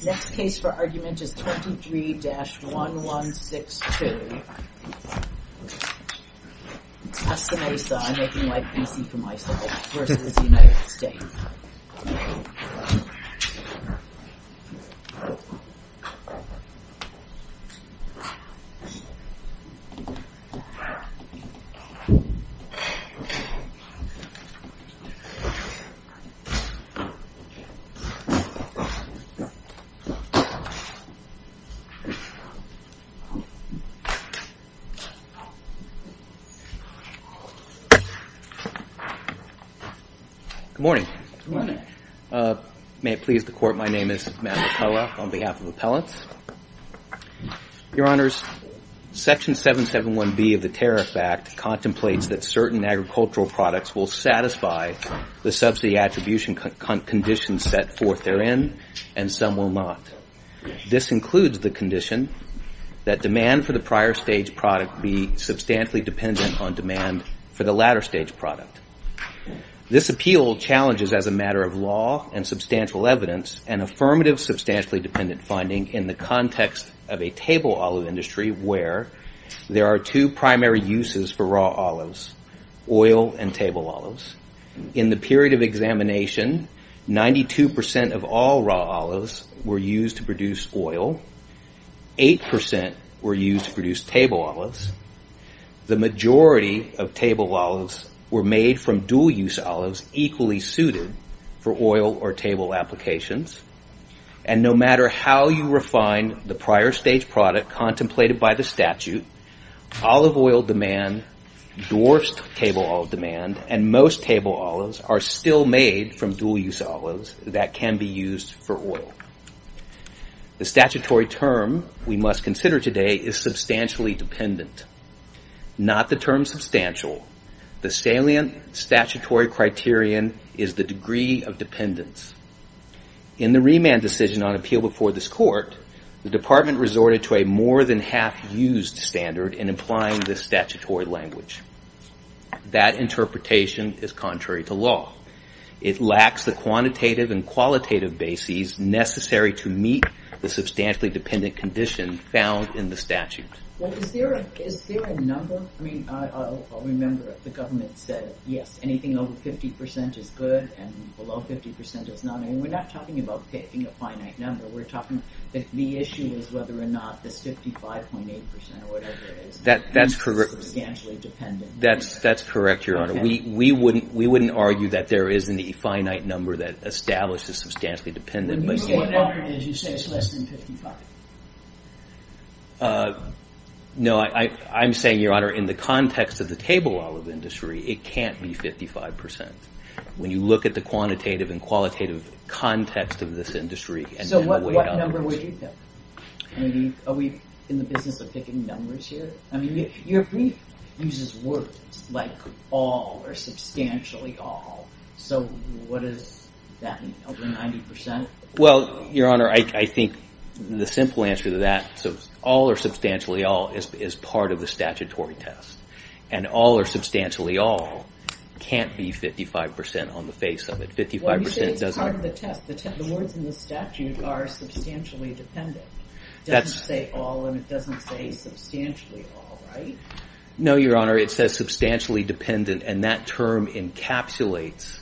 23-1162 Good morning. May it please the Court, my name is Matt McCullough on behalf of Appellants. Your Honors, Section 771B of the Tariff Act contemplates that certain agricultural products will satisfy the subsidy attribution conditions set forth therein, and some will not. This includes the condition that demand for the prior stage product be substantially dependent on demand for the latter stage product. This appeal challenges, as a matter of law and substantial evidence, an affirmative substantially dependent finding in the context of a table uses for raw olives, oil and table olives. In the period of examination, 92% of all raw olives were used to produce oil, 8% were used to produce table olives, the majority of table olives were made from dual use olives equally suited for oil or table applications, and no matter how you refine the prior stage product contemplated by the statute, olive oil demand dwarfs table olive demand and most table olives are still made from dual use olives that can be used for oil. The statutory term we must consider today is substantially dependent. Not the term substantial, the salient statutory criterion is the degree of dependence. In the remand decision on appeal before this Court, the Department resorted to a more than half used standard in implying this statutory language. That interpretation is contrary to law. It lacks the quantitative and qualitative basis necessary to meet the substantially dependent condition found in the statute. Is there a number? I remember the government said yes, anything over 50% is good and below 50% is not. We are not talking about picking a finite number, we are talking that the issue is whether or not this 55.8% or whatever is substantially dependent. That's correct, Your Honor. We wouldn't argue that there is any finite number that establishes substantially dependent. When you say whatever it is, you say it's less than 55? No, I'm saying, Your Honor, in the context of the table olive industry, it can't be 55%. When you look at the quantitative and qualitative context of this industry and the way it operates. What would you pick? Are we in the business of picking numbers here? Your brief uses words like all or substantially all, so what does that mean, over 90%? Your Honor, I think the simple answer to that, all or substantially all is part of the statutory test. All or substantially all can't be 55% on the face of it. Well, you say it's part of the test. The words in the statute are substantially dependent. It doesn't say all and it doesn't say substantially all, right? No, Your Honor, it says substantially dependent and that term encapsulates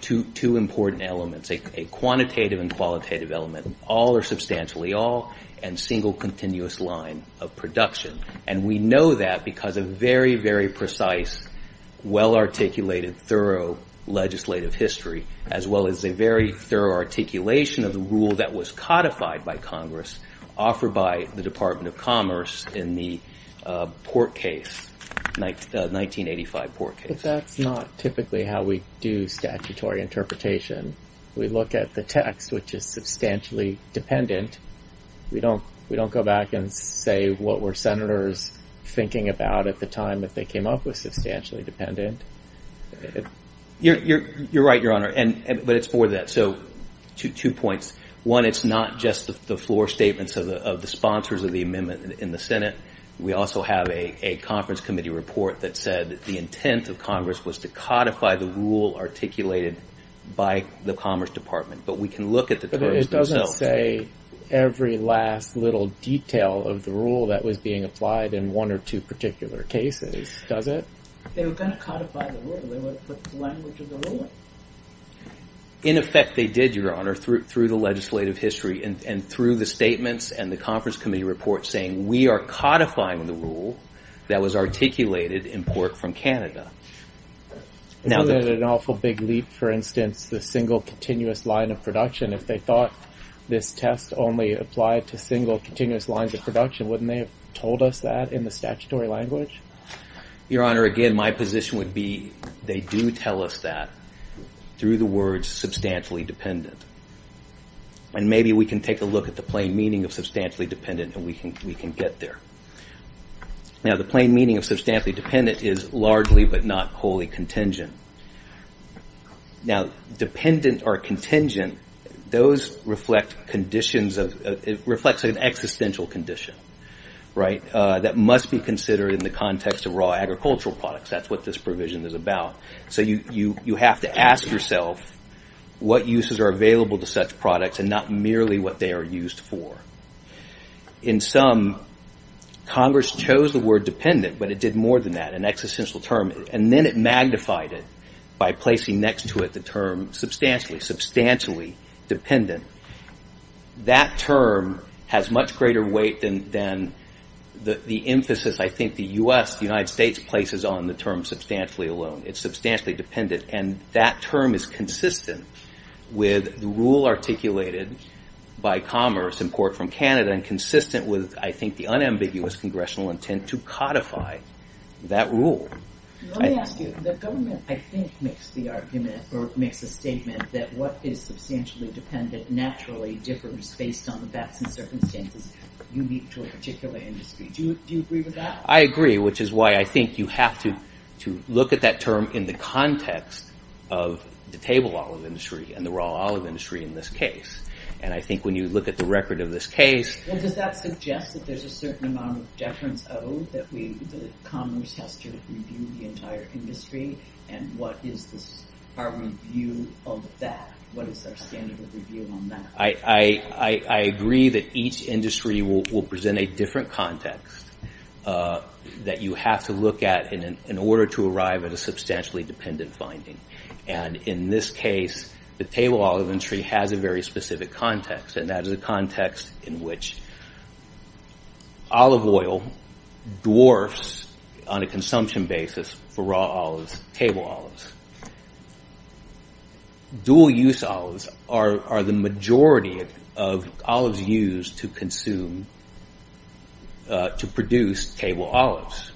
two important elements, a quantitative and qualitative element, all or substantially all, and single continuous line of production. And we know that because of very, very precise, well articulated, thorough legislative history, as well as a very thorough articulation of the rule that was codified by Congress, offered by the Department of Commerce in the Port Case, 1985 Port Case. But that's not typically how we do statutory interpretation. We look at the text, which is substantially dependent. We don't go back and say what were Senators thinking about at the time that they came up with substantially dependent. You're right, Your Honor, but it's more than that. So two points. One, it's not just the floor statements of the sponsors of the amendment in the Senate. We also have a conference committee report that said the intent of Congress was to codify the rule articulated by the Commerce Department, but we can look at the terms themselves. But it doesn't say every last little detail of the rule that was being applied in one or two particular cases, does it? They were going to codify the rule. They would have put the language of the ruling. In effect, they did, Your Honor, through the legislative history and through the statements and the conference committee report saying we are codifying the rule that was articulated in Port from Canada. Isn't that an awful big leap, for instance, the single continuous line of production? If they thought this test only applied to single continuous lines of production, wouldn't they have told us that in the statutory language? Your Honor, again, my position would be they do tell us that through the words substantially dependent. And maybe we can take a look at the plain meaning of substantially dependent and we can get there. Now the plain meaning of substantially dependent is largely but not wholly contingent. Now dependent or contingent, those reflect an existential condition that must be considered in the context of raw agricultural products. That's what this provision is about. So you have to ask yourself what uses are available to such products and not merely what they are used for. In some, Congress chose the word dependent, but it did more than that, an existential term. And then it magnified it by placing next to it the term substantially, substantially dependent. That term has much greater weight than the emphasis I think the U.S., the United States places on the term substantially alone. It's substantially dependent. And that term is consistent with the rule articulated by Commerce in Port from Canada and consistent with, I think, that rule. Let me ask you. The government, I think, makes the argument or makes a statement that what is substantially dependent naturally differs based on the facts and circumstances unique to a particular industry. Do you agree with that? I agree, which is why I think you have to look at that term in the context of the table olive industry and the raw olive industry in this case. And I think when you look at the record of this case... Well, does that suggest that there's a certain amount of deference owed that Commerce has to review the entire industry? And what is our review of that? What is our standard of review on that? I agree that each industry will present a different context that you have to look at in order to arrive at a substantially dependent finding. And in this case, the table olive industry has a very specific context. And that is a context in which olive oil dwarfs on a consumption basis for raw olives, table olives. Dual use olives are the majority of olives used to consume, to produce table olives.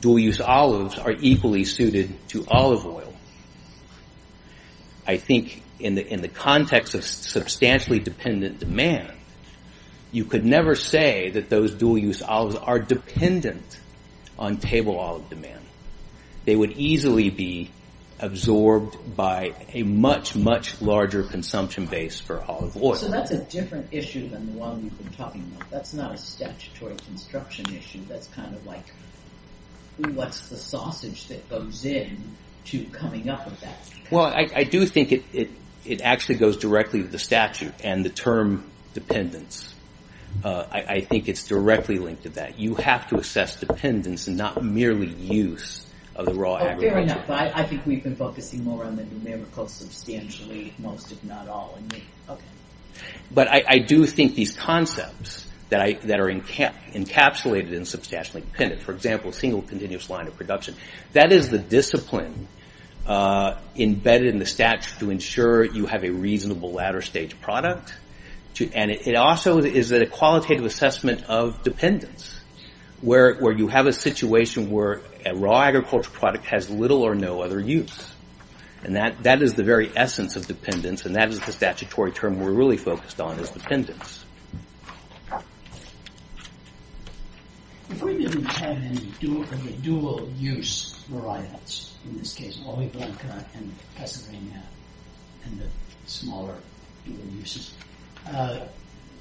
Dual use olives are equally suited to olive oil. I think in the context of substantially dependent demand, you could never say that those dual use olives are dependent on table olive demand. They would easily be absorbed by a much, much larger consumption base for olive oil. So that's a different issue than the one we've been talking about. That's not a statutory construction issue. That's kind of like, what's the sausage that goes in to coming up with that? Well, I do think it actually goes directly with the statute and the term dependence. I think it's directly linked to that. You have to assess dependence and not merely use of the raw agro- Fair enough. I think we've been focusing more on the numerical substantially, most if not all. Okay. But I do think these concepts that are encapsulated in substantially dependent, for example, single continuous line of production, that is the discipline embedded in the statute to ensure you have a reasonable latter stage product. And it also is a qualitative assessment of dependence, where you have a situation where a raw agricultural product has little or no other use. And that is the very essence of dependence. And that is the statutory term we're really focused on, is dependence. If we didn't have any dual use varietals, in this case, olive blanca and cassavina, and the smaller uses,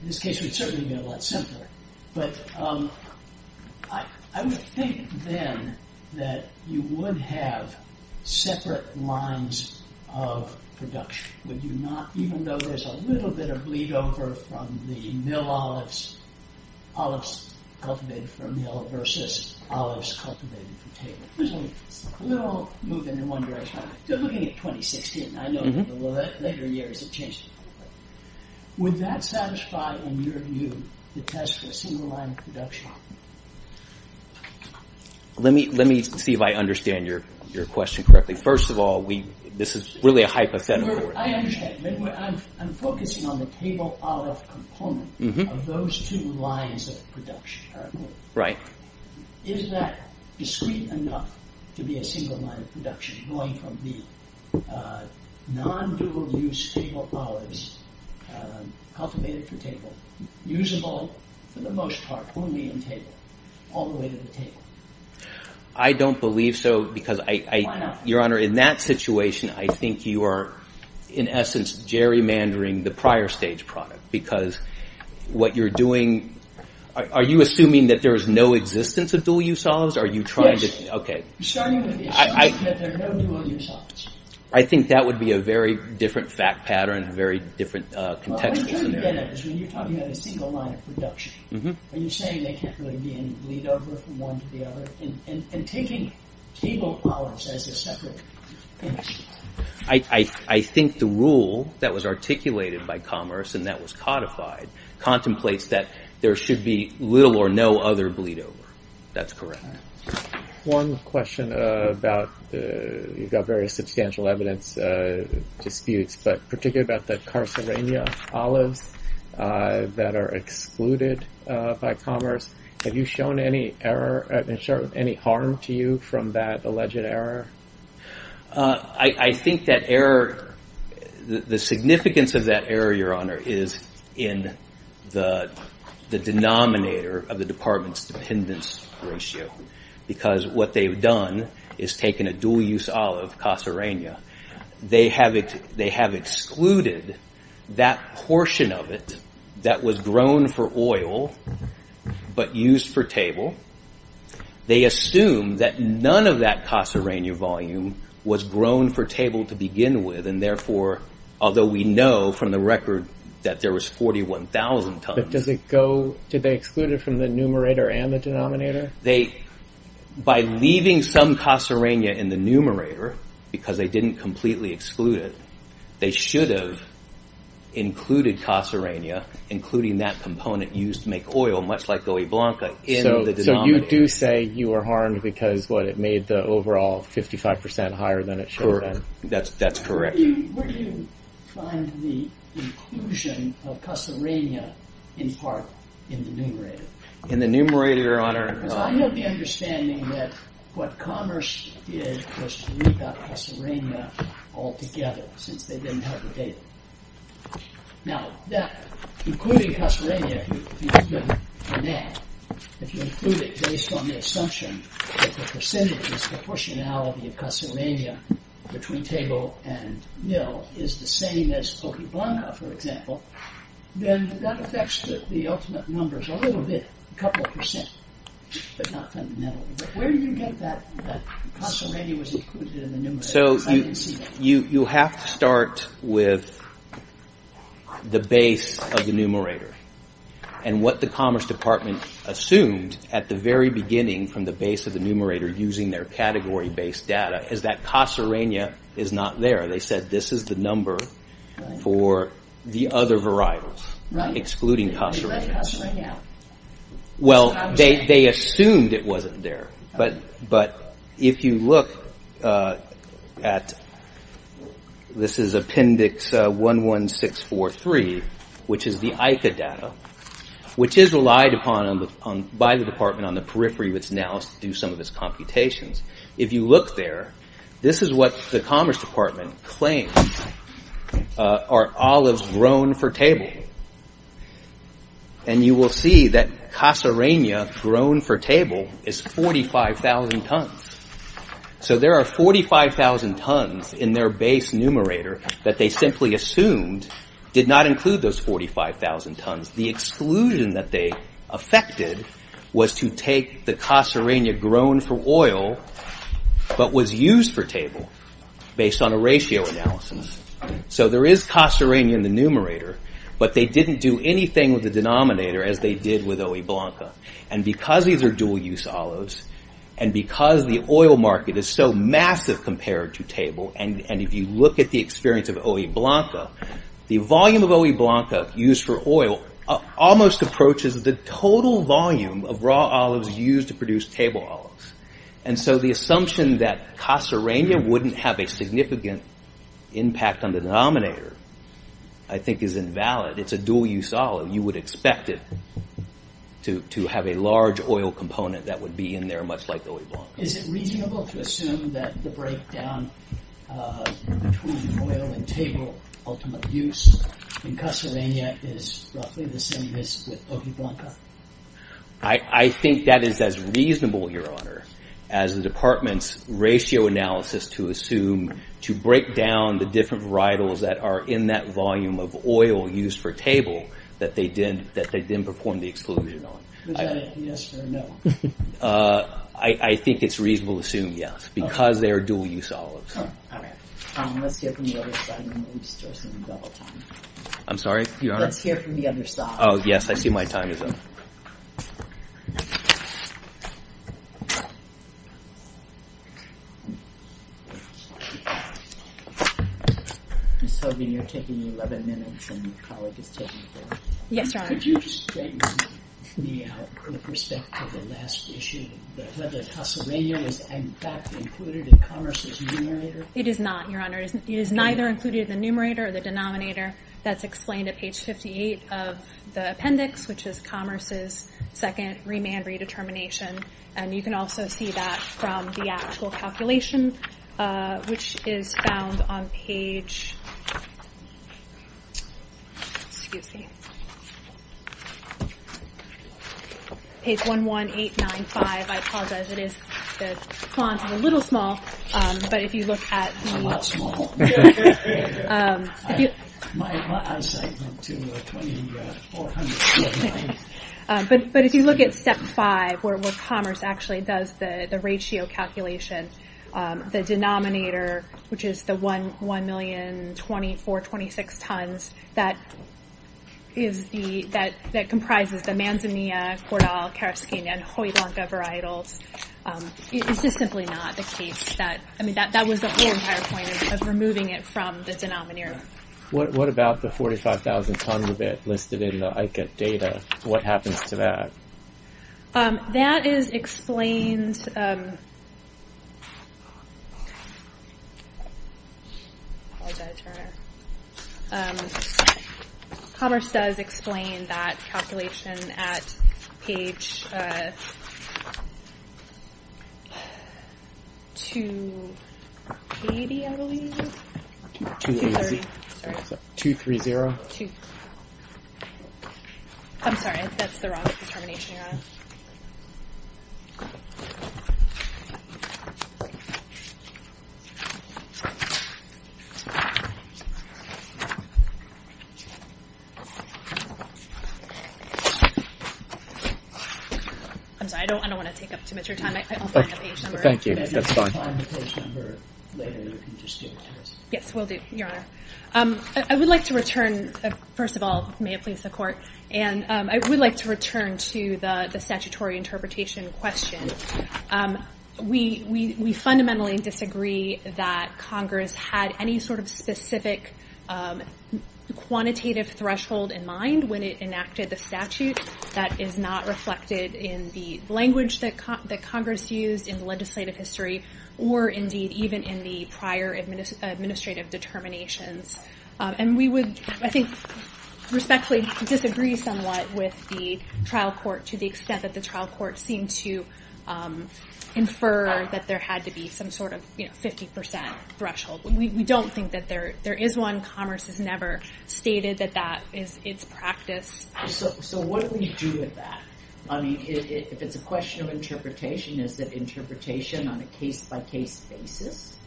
this case would certainly be a lot simpler. But I would think then that you would have separate lines of production. Would you not, even though there's a little bit of bleed over from the mill olives, olives cultivated from mill versus olives cultivated from table. There's a little move in one direction. They're looking at 2016. I know the later years have changed. Would that satisfy, in your view, the test for a single line of production? Let me see if I understand your question correctly. First of all, this is really a hypothetical. I understand. I'm focusing on the table olive component of those two lines of production. Is that discreet enough to be a single line of production going from the non-dual use table olives, cultivated from table, usable for the most part, only in table, all the way to the table? I don't believe so because, Your Honor, in that situation, I think you are in essence gerrymandering the prior stage product because what you're doing, are you assuming that there's no existence of dual use olives? Are you trying to, okay, I think that would be a very different fact pattern, a very different context. What I'm trying to get at is when you're talking about a single line of production, are you saying there can't really be any bleed over from one to the other? And taking table olives as a separate issue. I think the rule that was articulated by Commerce and that was codified contemplates that there should be little or no other bleed over. That's correct. One question about, you've got various substantial evidence disputes, but particularly about the carcerinia olives that are excluded by Commerce. Have you shown any harm to you from that alleged error? I think that error, the significance of that error, Your Honor, is in the denominator of the department's dependence ratio because what they've done is taken a dual use olive, carcerinia. They have excluded that portion of it that was grown for oil but used for table. They assume that none of that carcerinia volume was grown for table to begin with and therefore, although we know from the record that there was 41,000 tons. But does it go, did they exclude it from the numerator and the denominator? They, by leaving some carcerinia in the numerator because they didn't completely exclude it, they should have included carcerinia, including that component used to make oil, much like Goiblanca, in the denominator. So you do say you were harmed because what it made the overall 55% higher than it should have been. Correct. That's correct. Where do you find the inclusion of carcerinia in part in the numerator? In the numerator, Your Honor? Because I know the understanding that what Commerce did was to leave out carcerinia altogether since they didn't have the data. Now that, including carcerinia, if you include it based on the assumption that the percentages, the proportionality of carcerinia between table and mill is the same as Goiblanca, for example, then that affects the ultimate numbers a little bit, a couple of percent, but not fundamentally. Where do you get that carcerinia was included in the numerator? So you have to start with the base of the numerator and what the Commerce Department assumed at the very beginning from the base of the numerator using their category-based data is that carcerinia is not there. They said this is the number for the other variables, excluding carcerinia. Right. You left carcerinia out. Well, they assumed it wasn't there, but if you look at, this is Appendix 11643, which is the ICA data, which is relied upon by the Department on the periphery, which now is to do some of its computations. If you look there, this is what the Commerce Department claims are olives grown for table. And you will see that carcerinia grown for table is 45,000 tons. So there are 45,000 tons in their base numerator that they simply assumed did not include those 45,000 tons. The exclusion that they affected was to take the carcerinia grown for oil, but was used for table based on a ratio analysis. So there is carcerinia in the numerator, but they didn't do anything with the denominator as they did with Oeblanca. And because these are dual use olives, and because the oil market is so massive compared to table, and if you look at the experience of Oeblanca, the volume of Oeblanca used for oil almost approaches the total volume of raw olives used to produce table olives. And so the assumption that carcerinia wouldn't have a significant impact on the denominator, I think is invalid. It's a dual use olive. You would expect it to have a large oil component that would be in there much like Oeblanca. Is it reasonable to assume that the breakdown between oil and table ultimate use in carcerinia is roughly the same as with Oeblanca? I think that is as reasonable, Your Honor, as the Department's ratio analysis to assume to break down the different varietals that are in that volume of oil used for table that they didn't perform the exclusion on. Is that a yes or a no? I think it's reasonable to assume yes, because they are dual use olives. All right. Let's hear from the other side, and then we'll start some double time. I'm sorry, Your Honor? Let's hear from the other side. Oh, yes. I see my time is up. Ms. Hogan, you're taking 11 minutes, and your colleague is taking four. Yes, Your Honor. Could you just straighten me out from the perspective of the last issue, whether carcerinia was, in fact, included in Commerce's numerator? It is not, Your Honor. It is neither included in the numerator or the denominator. That's explained at page 58 of the appendix, which is Commerce's second remand redetermination. And you can also see that from the actual calculation, which is found on page 11895. I apologize. The font is a little small, but if you look at the— I'm not small. My eyesight went to 2449. But if you look at step five, where Commerce actually does the ratio calculation, the denominator, which is the 1,024,026 tons that comprises the manzanilla, cordial, carcerinia, and hoidlanca varietals, is just simply not the case. I mean, that was the whole entire point of removing it from the denominator. What about the 45,000 tons of it listed in the ICA data? What happens to that? That is explained—I apologize, Your Honor. Commerce does explain that calculation at page 280, I believe? 230. Sorry. 230. I'm sorry. That's the wrong determination, Your Honor. I'm sorry. I don't want to take up too much of your time. I'll find a page number. Thank you. That's fine. If you find a page number later, you can just give it to us. Yes, will do, Your Honor. I would like to return, first of all, may it please the Court, and I would like to return to the statutory interpretation question. We fundamentally disagree that Congress had any sort of specific quantitative threshold in mind when it enacted the statute that is not reflected in the language that Congress used in the legislative history or, indeed, even in the prior administrative determinations. And we would, I think, respectfully disagree somewhat with the trial court to the extent that the trial court seemed to infer that there had to be some sort of 50% threshold. We don't think that there is one. Commerce has never stated that that is its practice. So what do we do with that? If it's a question of interpretation, is that interpretation on a case-by-case basis?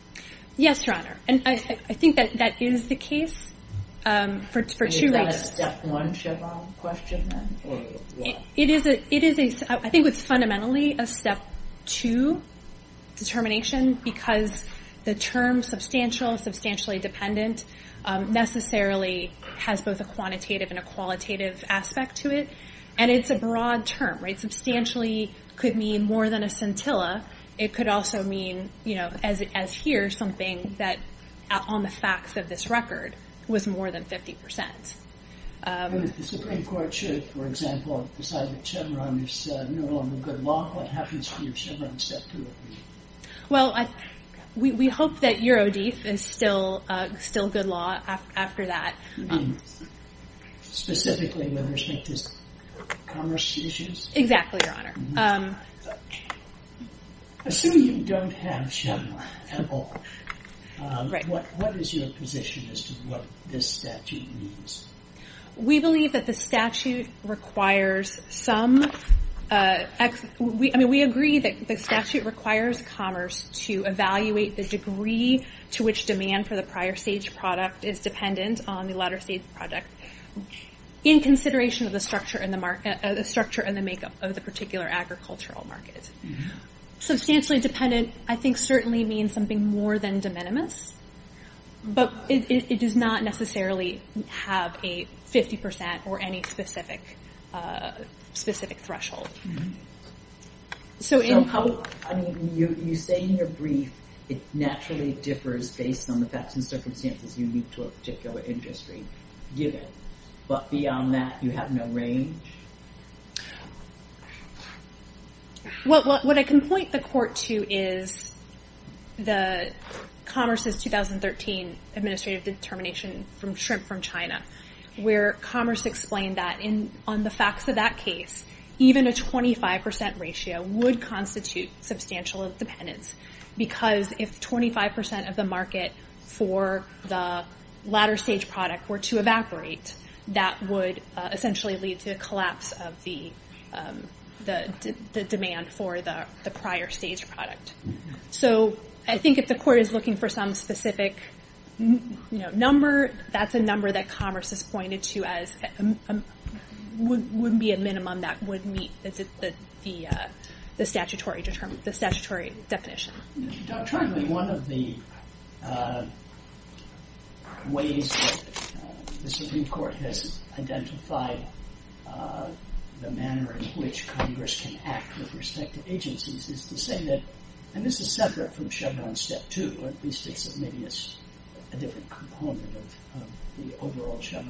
Yes, Your Honor, and I think that that is the case for two reasons. Is that a step one Chevron question then? I think it's fundamentally a step two determination because the term substantial, substantially dependent necessarily has both a quantitative and a qualitative aspect to it. And it's a broad term, right? Substantially could mean more than a scintilla. It could also mean, as here, something that on the facts of this record was more than 50%. If the Supreme Court should, for example, decide that Chevron is no longer good law, what happens to your Chevron step two? Well, we hope that Eurodief is still good law after that. You mean specifically with respect to commerce issues? Exactly, Your Honor. Assuming you don't have Chevron at all, what is your position as to what this statute means? We believe that the statute requires some— I mean, we agree that the statute requires commerce to evaluate the degree to which demand for the prior stage product is dependent on the latter stage project in consideration of the structure and the makeup of the particular agricultural market. Substantially dependent I think certainly means something more than de minimis, but it does not necessarily have a 50% or any specific threshold. So in public— I mean, you say in your brief it naturally differs based on the facts and circumstances unique to a particular industry, given. But beyond that, you have no range? What I can point the court to is the Commerce's 2013 administrative determination from Shrimp from China, where Commerce explained that on the facts of that case, even a 25% ratio would constitute substantial dependence, because if 25% of the market for the latter stage product were to evaporate, that would essentially lead to a collapse of the demand for the prior stage product. So I think if the court is looking for some specific number, that's a number that Commerce has pointed to as would be a minimum that would meet the statutory definition. Doctrinally, one of the ways that the Supreme Court has identified the manner in which Congress can act with respect to agencies is to say that— the overall Chagall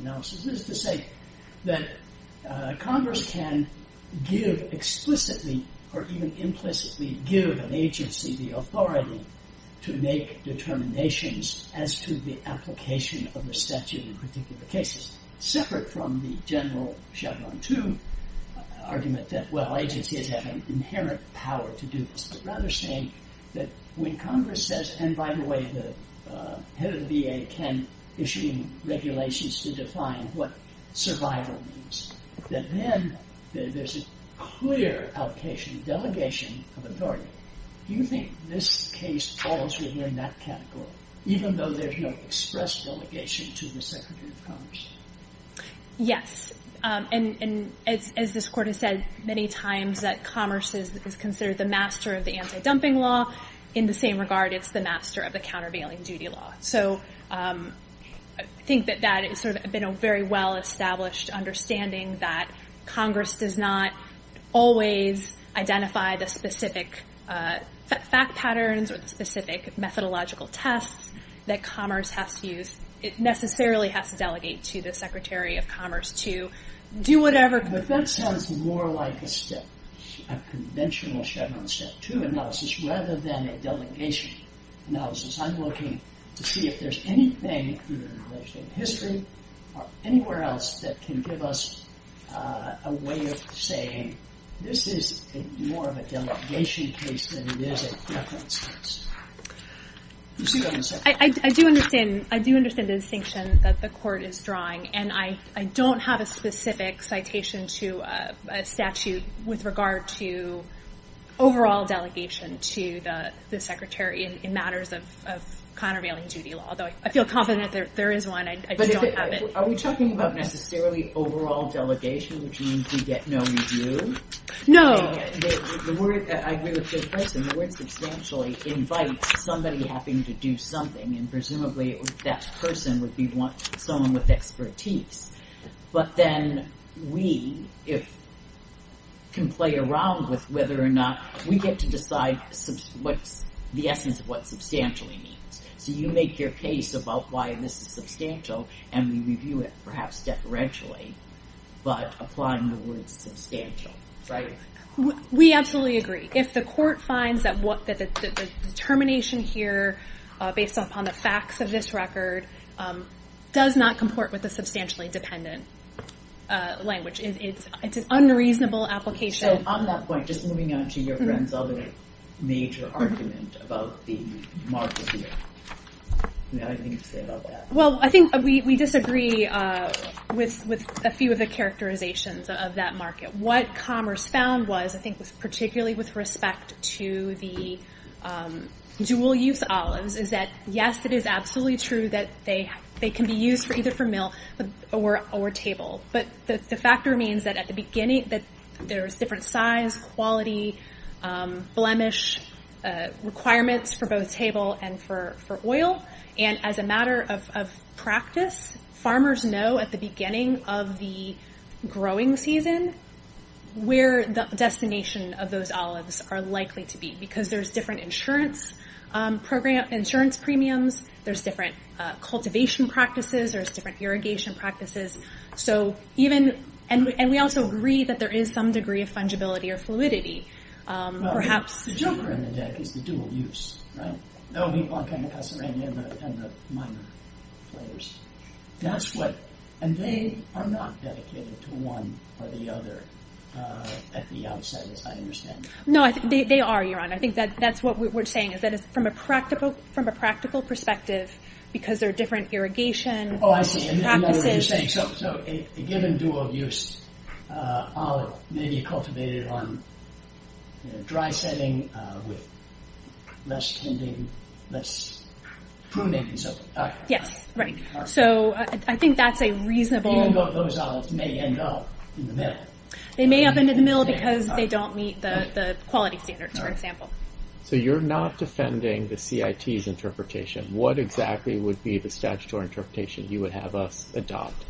analysis is to say that Congress can give explicitly or even implicitly give an agency the authority to make determinations as to the application of the statute in particular cases, separate from the general Chagall II argument that, well, agencies have an inherent power to do this, but rather saying that when Congress says— the head of the VA can issue regulations to define what survival means, that then there's a clear allocation, delegation of authority. Do you think this case falls within that category, even though there's no express delegation to the Secretary of Commerce? Yes. And as this Court has said many times, that Commerce is considered the master of the anti-dumping law. In the same regard, it's the master of the countervailing duty law. So I think that that has been a very well-established understanding that Congress does not always identify the specific fact patterns or the specific methodological tests that Commerce has to use. It necessarily has to delegate to the Secretary of Commerce to do whatever— But that sounds more like a conventional Chagall Statute analysis rather than a delegation analysis. I'm looking to see if there's anything in the legislative history or anywhere else that can give us a way of saying this is more of a delegation case than it is a preference case. You see what I'm saying? I do understand the distinction that the Court is drawing, and I don't have a specific citation to a statute with regard to overall delegation to the Secretary in matters of countervailing duty law, although I feel confident that there is one. I just don't have it. Are we talking about necessarily overall delegation, which means we get no review? No. I agree with Jay Preston. The word substantially invites somebody having to do something, and presumably that person would be someone with expertise. But then we can play around with whether or not we get to decide the essence of what substantially means. So you make your case about why this is substantial, and we review it, perhaps deferentially, but applying the word substantial, right? We absolutely agree. If the Court finds that the determination here, based upon the facts of this record, does not comport with a substantially dependent language, it's an unreasonable application. So on that point, just moving on to your friend's other major argument about the market here. Do you have anything to say about that? Well, I think we disagree with a few of the characterizations of that market. What Commerce found was, I think particularly with respect to the dual-use olives, is that, yes, it is absolutely true that they can be used either for mill or table. But the factor means that at the beginning there's different size, quality, blemish requirements for both table and for oil. And as a matter of practice, farmers know at the beginning of the growing season where the destination of those olives are likely to be because there's different insurance premiums, there's different cultivation practices, there's different irrigation practices. And we also agree that there is some degree of fungibility or fluidity, perhaps. Well, the joker in the deck is the dual-use, right? That would be Blancana, Caserini, and the minor players. And they are not dedicated to one or the other at the outset, as I understand. No, they are, Your Honor. I think that's what we're saying, is that from a practical perspective, because there are different irrigation practices... Oh, I see. I know what you're saying. So a given dual-use olive may be cultivated on dry setting with less tending, less pruning, and so forth. Yes, right. So I think that's a reasonable... Even though those olives may end up in the mill. They may end up in the mill because they don't meet the quality standards, for example. So you're not defending the CIT's interpretation. What exactly would be the statutory interpretation you would have us adopt?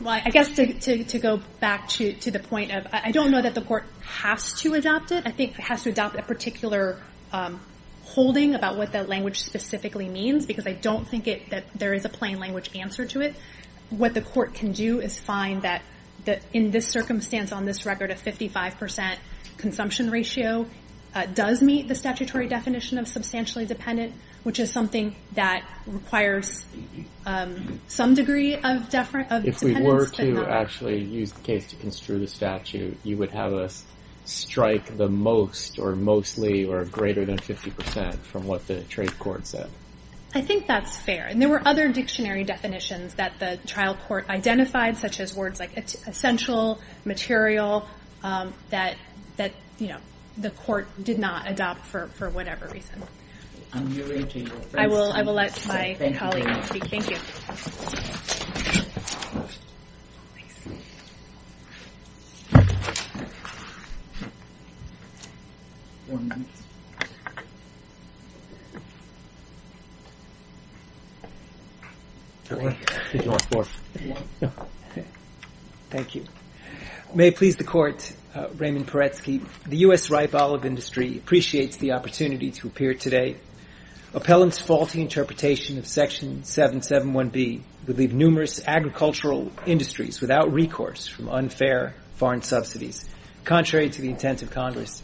Well, I guess to go back to the point of, I don't know that the court has to adopt it. I think it has to adopt a particular holding about what that language specifically means, because I don't think that there is a plain language answer to it. What the court can do is find that in this circumstance, on this record, a 55% consumption ratio does meet the statutory definition of substantially dependent, which is something that requires some degree of dependence. If we were to actually use the case to construe the statute, you would have us strike the most or mostly or greater than 50% from what the trade court said. I think that's fair. There were other dictionary definitions that the trial court identified, such as words like essential, material, that the court did not adopt for whatever reason. Thank you. May it please the court, Raymond Paretsky, the U.S. ripe olive industry appreciates the opportunity to appear today. Appellant's faulty interpretation of Section 771B would leave numerous agricultural industries without recourse from unfair foreign subsidies, contrary to the intent of Congress.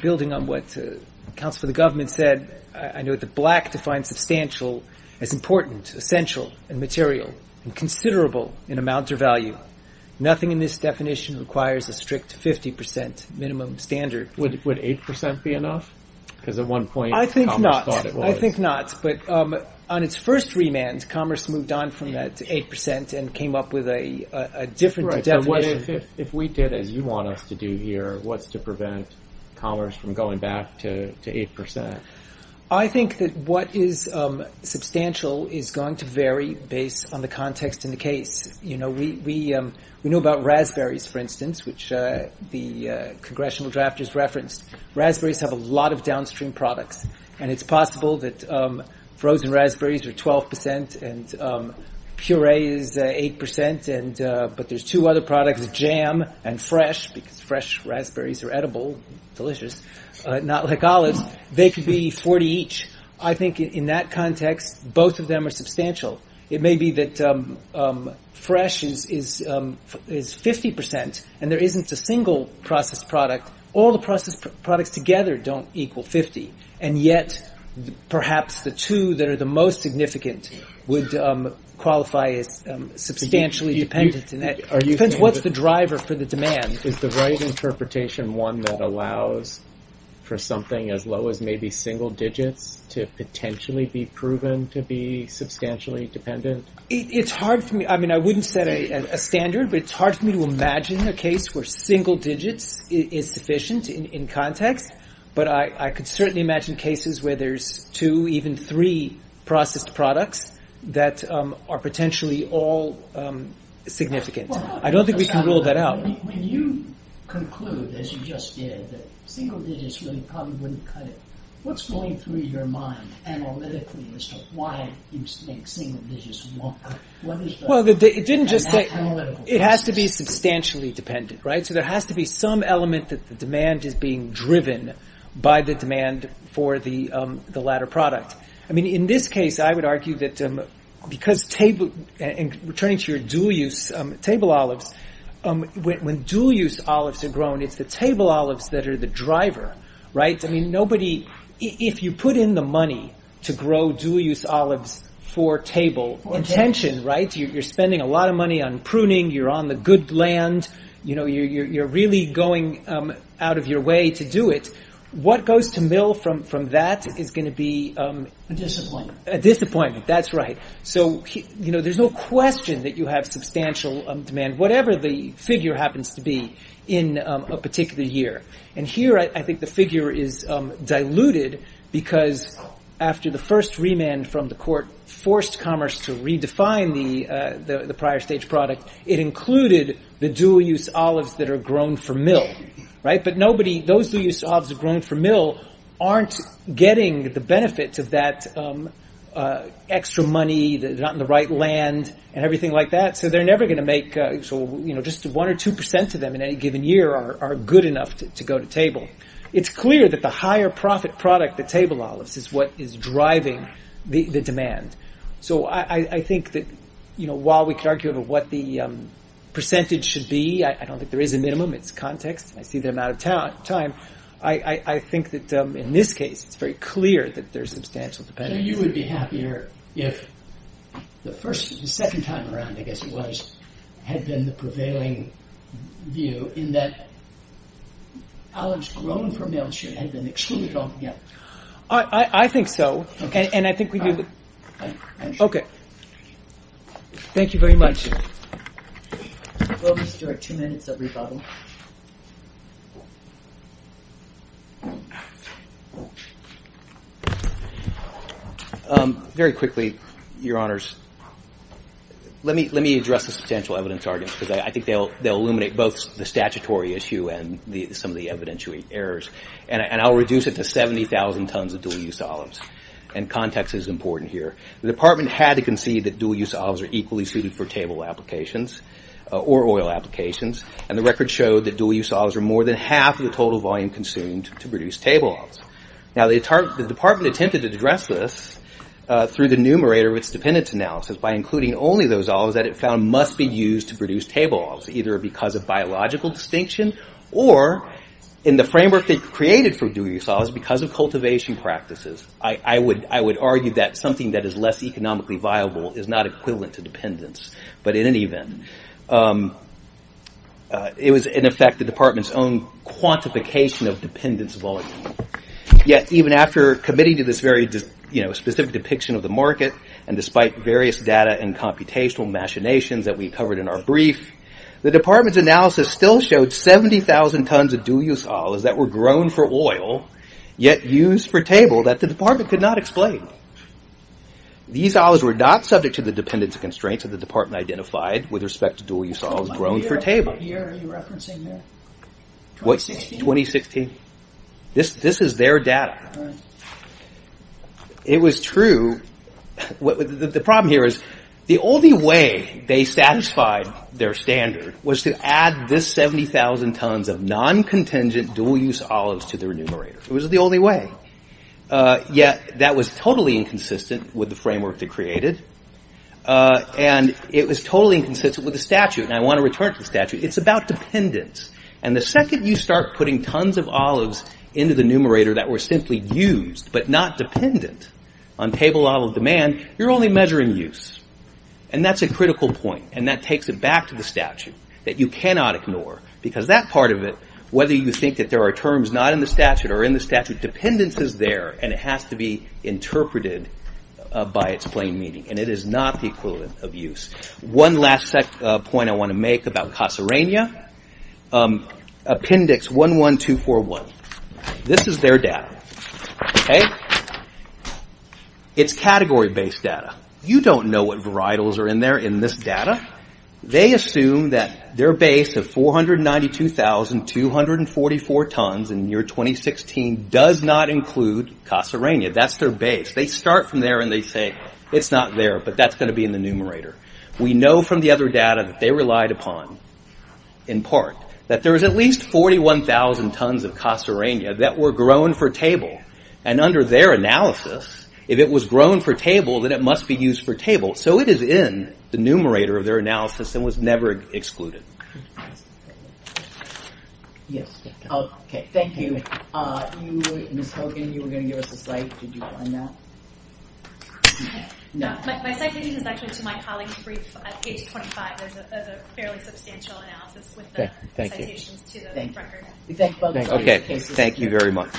Building on what the counsel for the government said, I note that Black defines substantial as important, essential, and material, and considerable in amount or value. Nothing in this definition requires a strict 50% minimum standard. Would 8% be enough? Because at one point Congress thought it was. I think not, but on its first remand, Commerce moved on from that to 8% and came up with a different definition. If we did as you want us to do here, what's to prevent Commerce from going back to 8%? I think that what is substantial is going to vary based on the context in the case. We know about raspberries, for instance, which the congressional drafters referenced. Raspberries have a lot of downstream products, and it's possible that frozen raspberries are 12% and puree is 8%, but there's two other products, jam and fresh, because fresh raspberries are edible, delicious, not like olives. They could be 40 each. I think in that context both of them are substantial. It may be that fresh is 50% and there isn't a single processed product. All the processed products together don't equal 50, and yet perhaps the two that are the most significant would qualify as substantially dependent. It depends what's the driver for the demand. Is the right interpretation one that allows for something as low as maybe single digits to potentially be proven to be substantially dependent? It's hard for me. I wouldn't set a standard, but it's hard for me to imagine a case where single digits is sufficient in context, but I could certainly imagine cases where there's two, even three processed products that are potentially all significant. I don't think we can rule that out. When you conclude, as you just did, that single digits probably wouldn't cut it, what's going through your mind analytically as to why you think single digits won't cut it? It has to be substantially dependent, right? So there has to be some element that the demand is being driven by the demand for the latter product. In this case, I would argue that because table and returning to your dual-use table olives, when dual-use olives are grown, it's the table olives that are the driver, right? If you put in the money to grow dual-use olives for table intention, right? You're spending a lot of money on pruning. You're on the good land. You're really going out of your way to do it. What goes to mill from that is going to be a disappointment. That's right. So there's no question that you have substantial demand, whatever the figure happens to be in a particular year. And here I think the figure is diluted because after the first remand from the court forced commerce to redefine the prior stage product, it included the dual-use olives that are grown for mill, right? But nobody, those dual-use olives are grown for mill, aren't getting the benefit of that extra money, they're not in the right land and everything like that. So they're never going to make, you know, just one or two percent of them in any given year are good enough to go to table. It's clear that the higher profit product, the table olives, is what is driving the demand. So I think that, you know, while we can argue about what the percentage should be, I don't think there is a minimum. It's context. I see the amount of time. I think that in this case it's very clear that there's substantial demand. So you would be happier if the second time around, I guess it was, had been the prevailing view in that olives grown for mill should have been excluded altogether. I think so. Okay. And I think we do. Okay. Thank you very much. We'll just do our two minutes of rebuttal. Very quickly, Your Honors, let me address the substantial evidence arguments because I think they'll illuminate both the statutory issue and some of the evidentiary errors. And I'll reduce it to 70,000 tons of dual-use olives. And context is important here. The department had to concede that dual-use olives are equally suited for table applications or oil applications. And the record showed that dual-use olives are more than half of the total volume consumed to produce table olives. Now the department attempted to address this through the numerator of its dependence analysis by including only those olives that it found must be used to produce table olives, either because of biological distinction or in the framework they created for dual-use olives because of cultivation practices. I would argue that something that is less economically viable is not equivalent to dependence. But in any event, it was in effect the department's own quantification of dependence volume. Yet even after committing to this very specific depiction of the market and despite various data and computational machinations that we covered in our brief, the department's analysis still showed 70,000 tons of dual-use olives that were grown for oil, yet used for table that the department could not explain. These olives were not subject to the dependence constraints that the department identified with respect to dual-use olives grown for table. What year are you referencing there? 2016. This is their data. It was true. The problem here is the only way they satisfied their standard was to add this 70,000 tons of non-contingent dual-use olives to their numerator. It was the only way. Yet that was totally inconsistent with the framework they created. And it was totally inconsistent with the statute. And I want to return to the statute. It's about dependence. And the second you start putting tons of olives into the numerator that were simply used but not dependent on table olive demand, you're only measuring use. And that's a critical point. And that takes it back to the statute that you cannot ignore because that part of it, whether you think that there are terms not in the statute or in the statute, dependence is there and it has to be interpreted by its plain meaning. And it is not the equivalent of use. One last point I want to make about Kasserania. Appendix 11241. This is their data. It's category-based data. You don't know what varietals are in there in this data. They assume that their base of 492,244 tons in year 2016 does not include Kasserania. That's their base. They start from there and they say it's not there, but that's going to be in the numerator. We know from the other data that they relied upon, in part, that there was at least 41,000 tons of Kasserania that were grown for table. And under their analysis, if it was grown for table, then it must be used for table. So it is in the numerator of their analysis and was never excluded. Yes. Okay, thank you. Ms. Hogan, you were going to give us a cite. Did you find that? No. My citation is actually to my colleague's brief at page 25. There's a fairly substantial analysis with the citations to the record. Okay, thank you very much.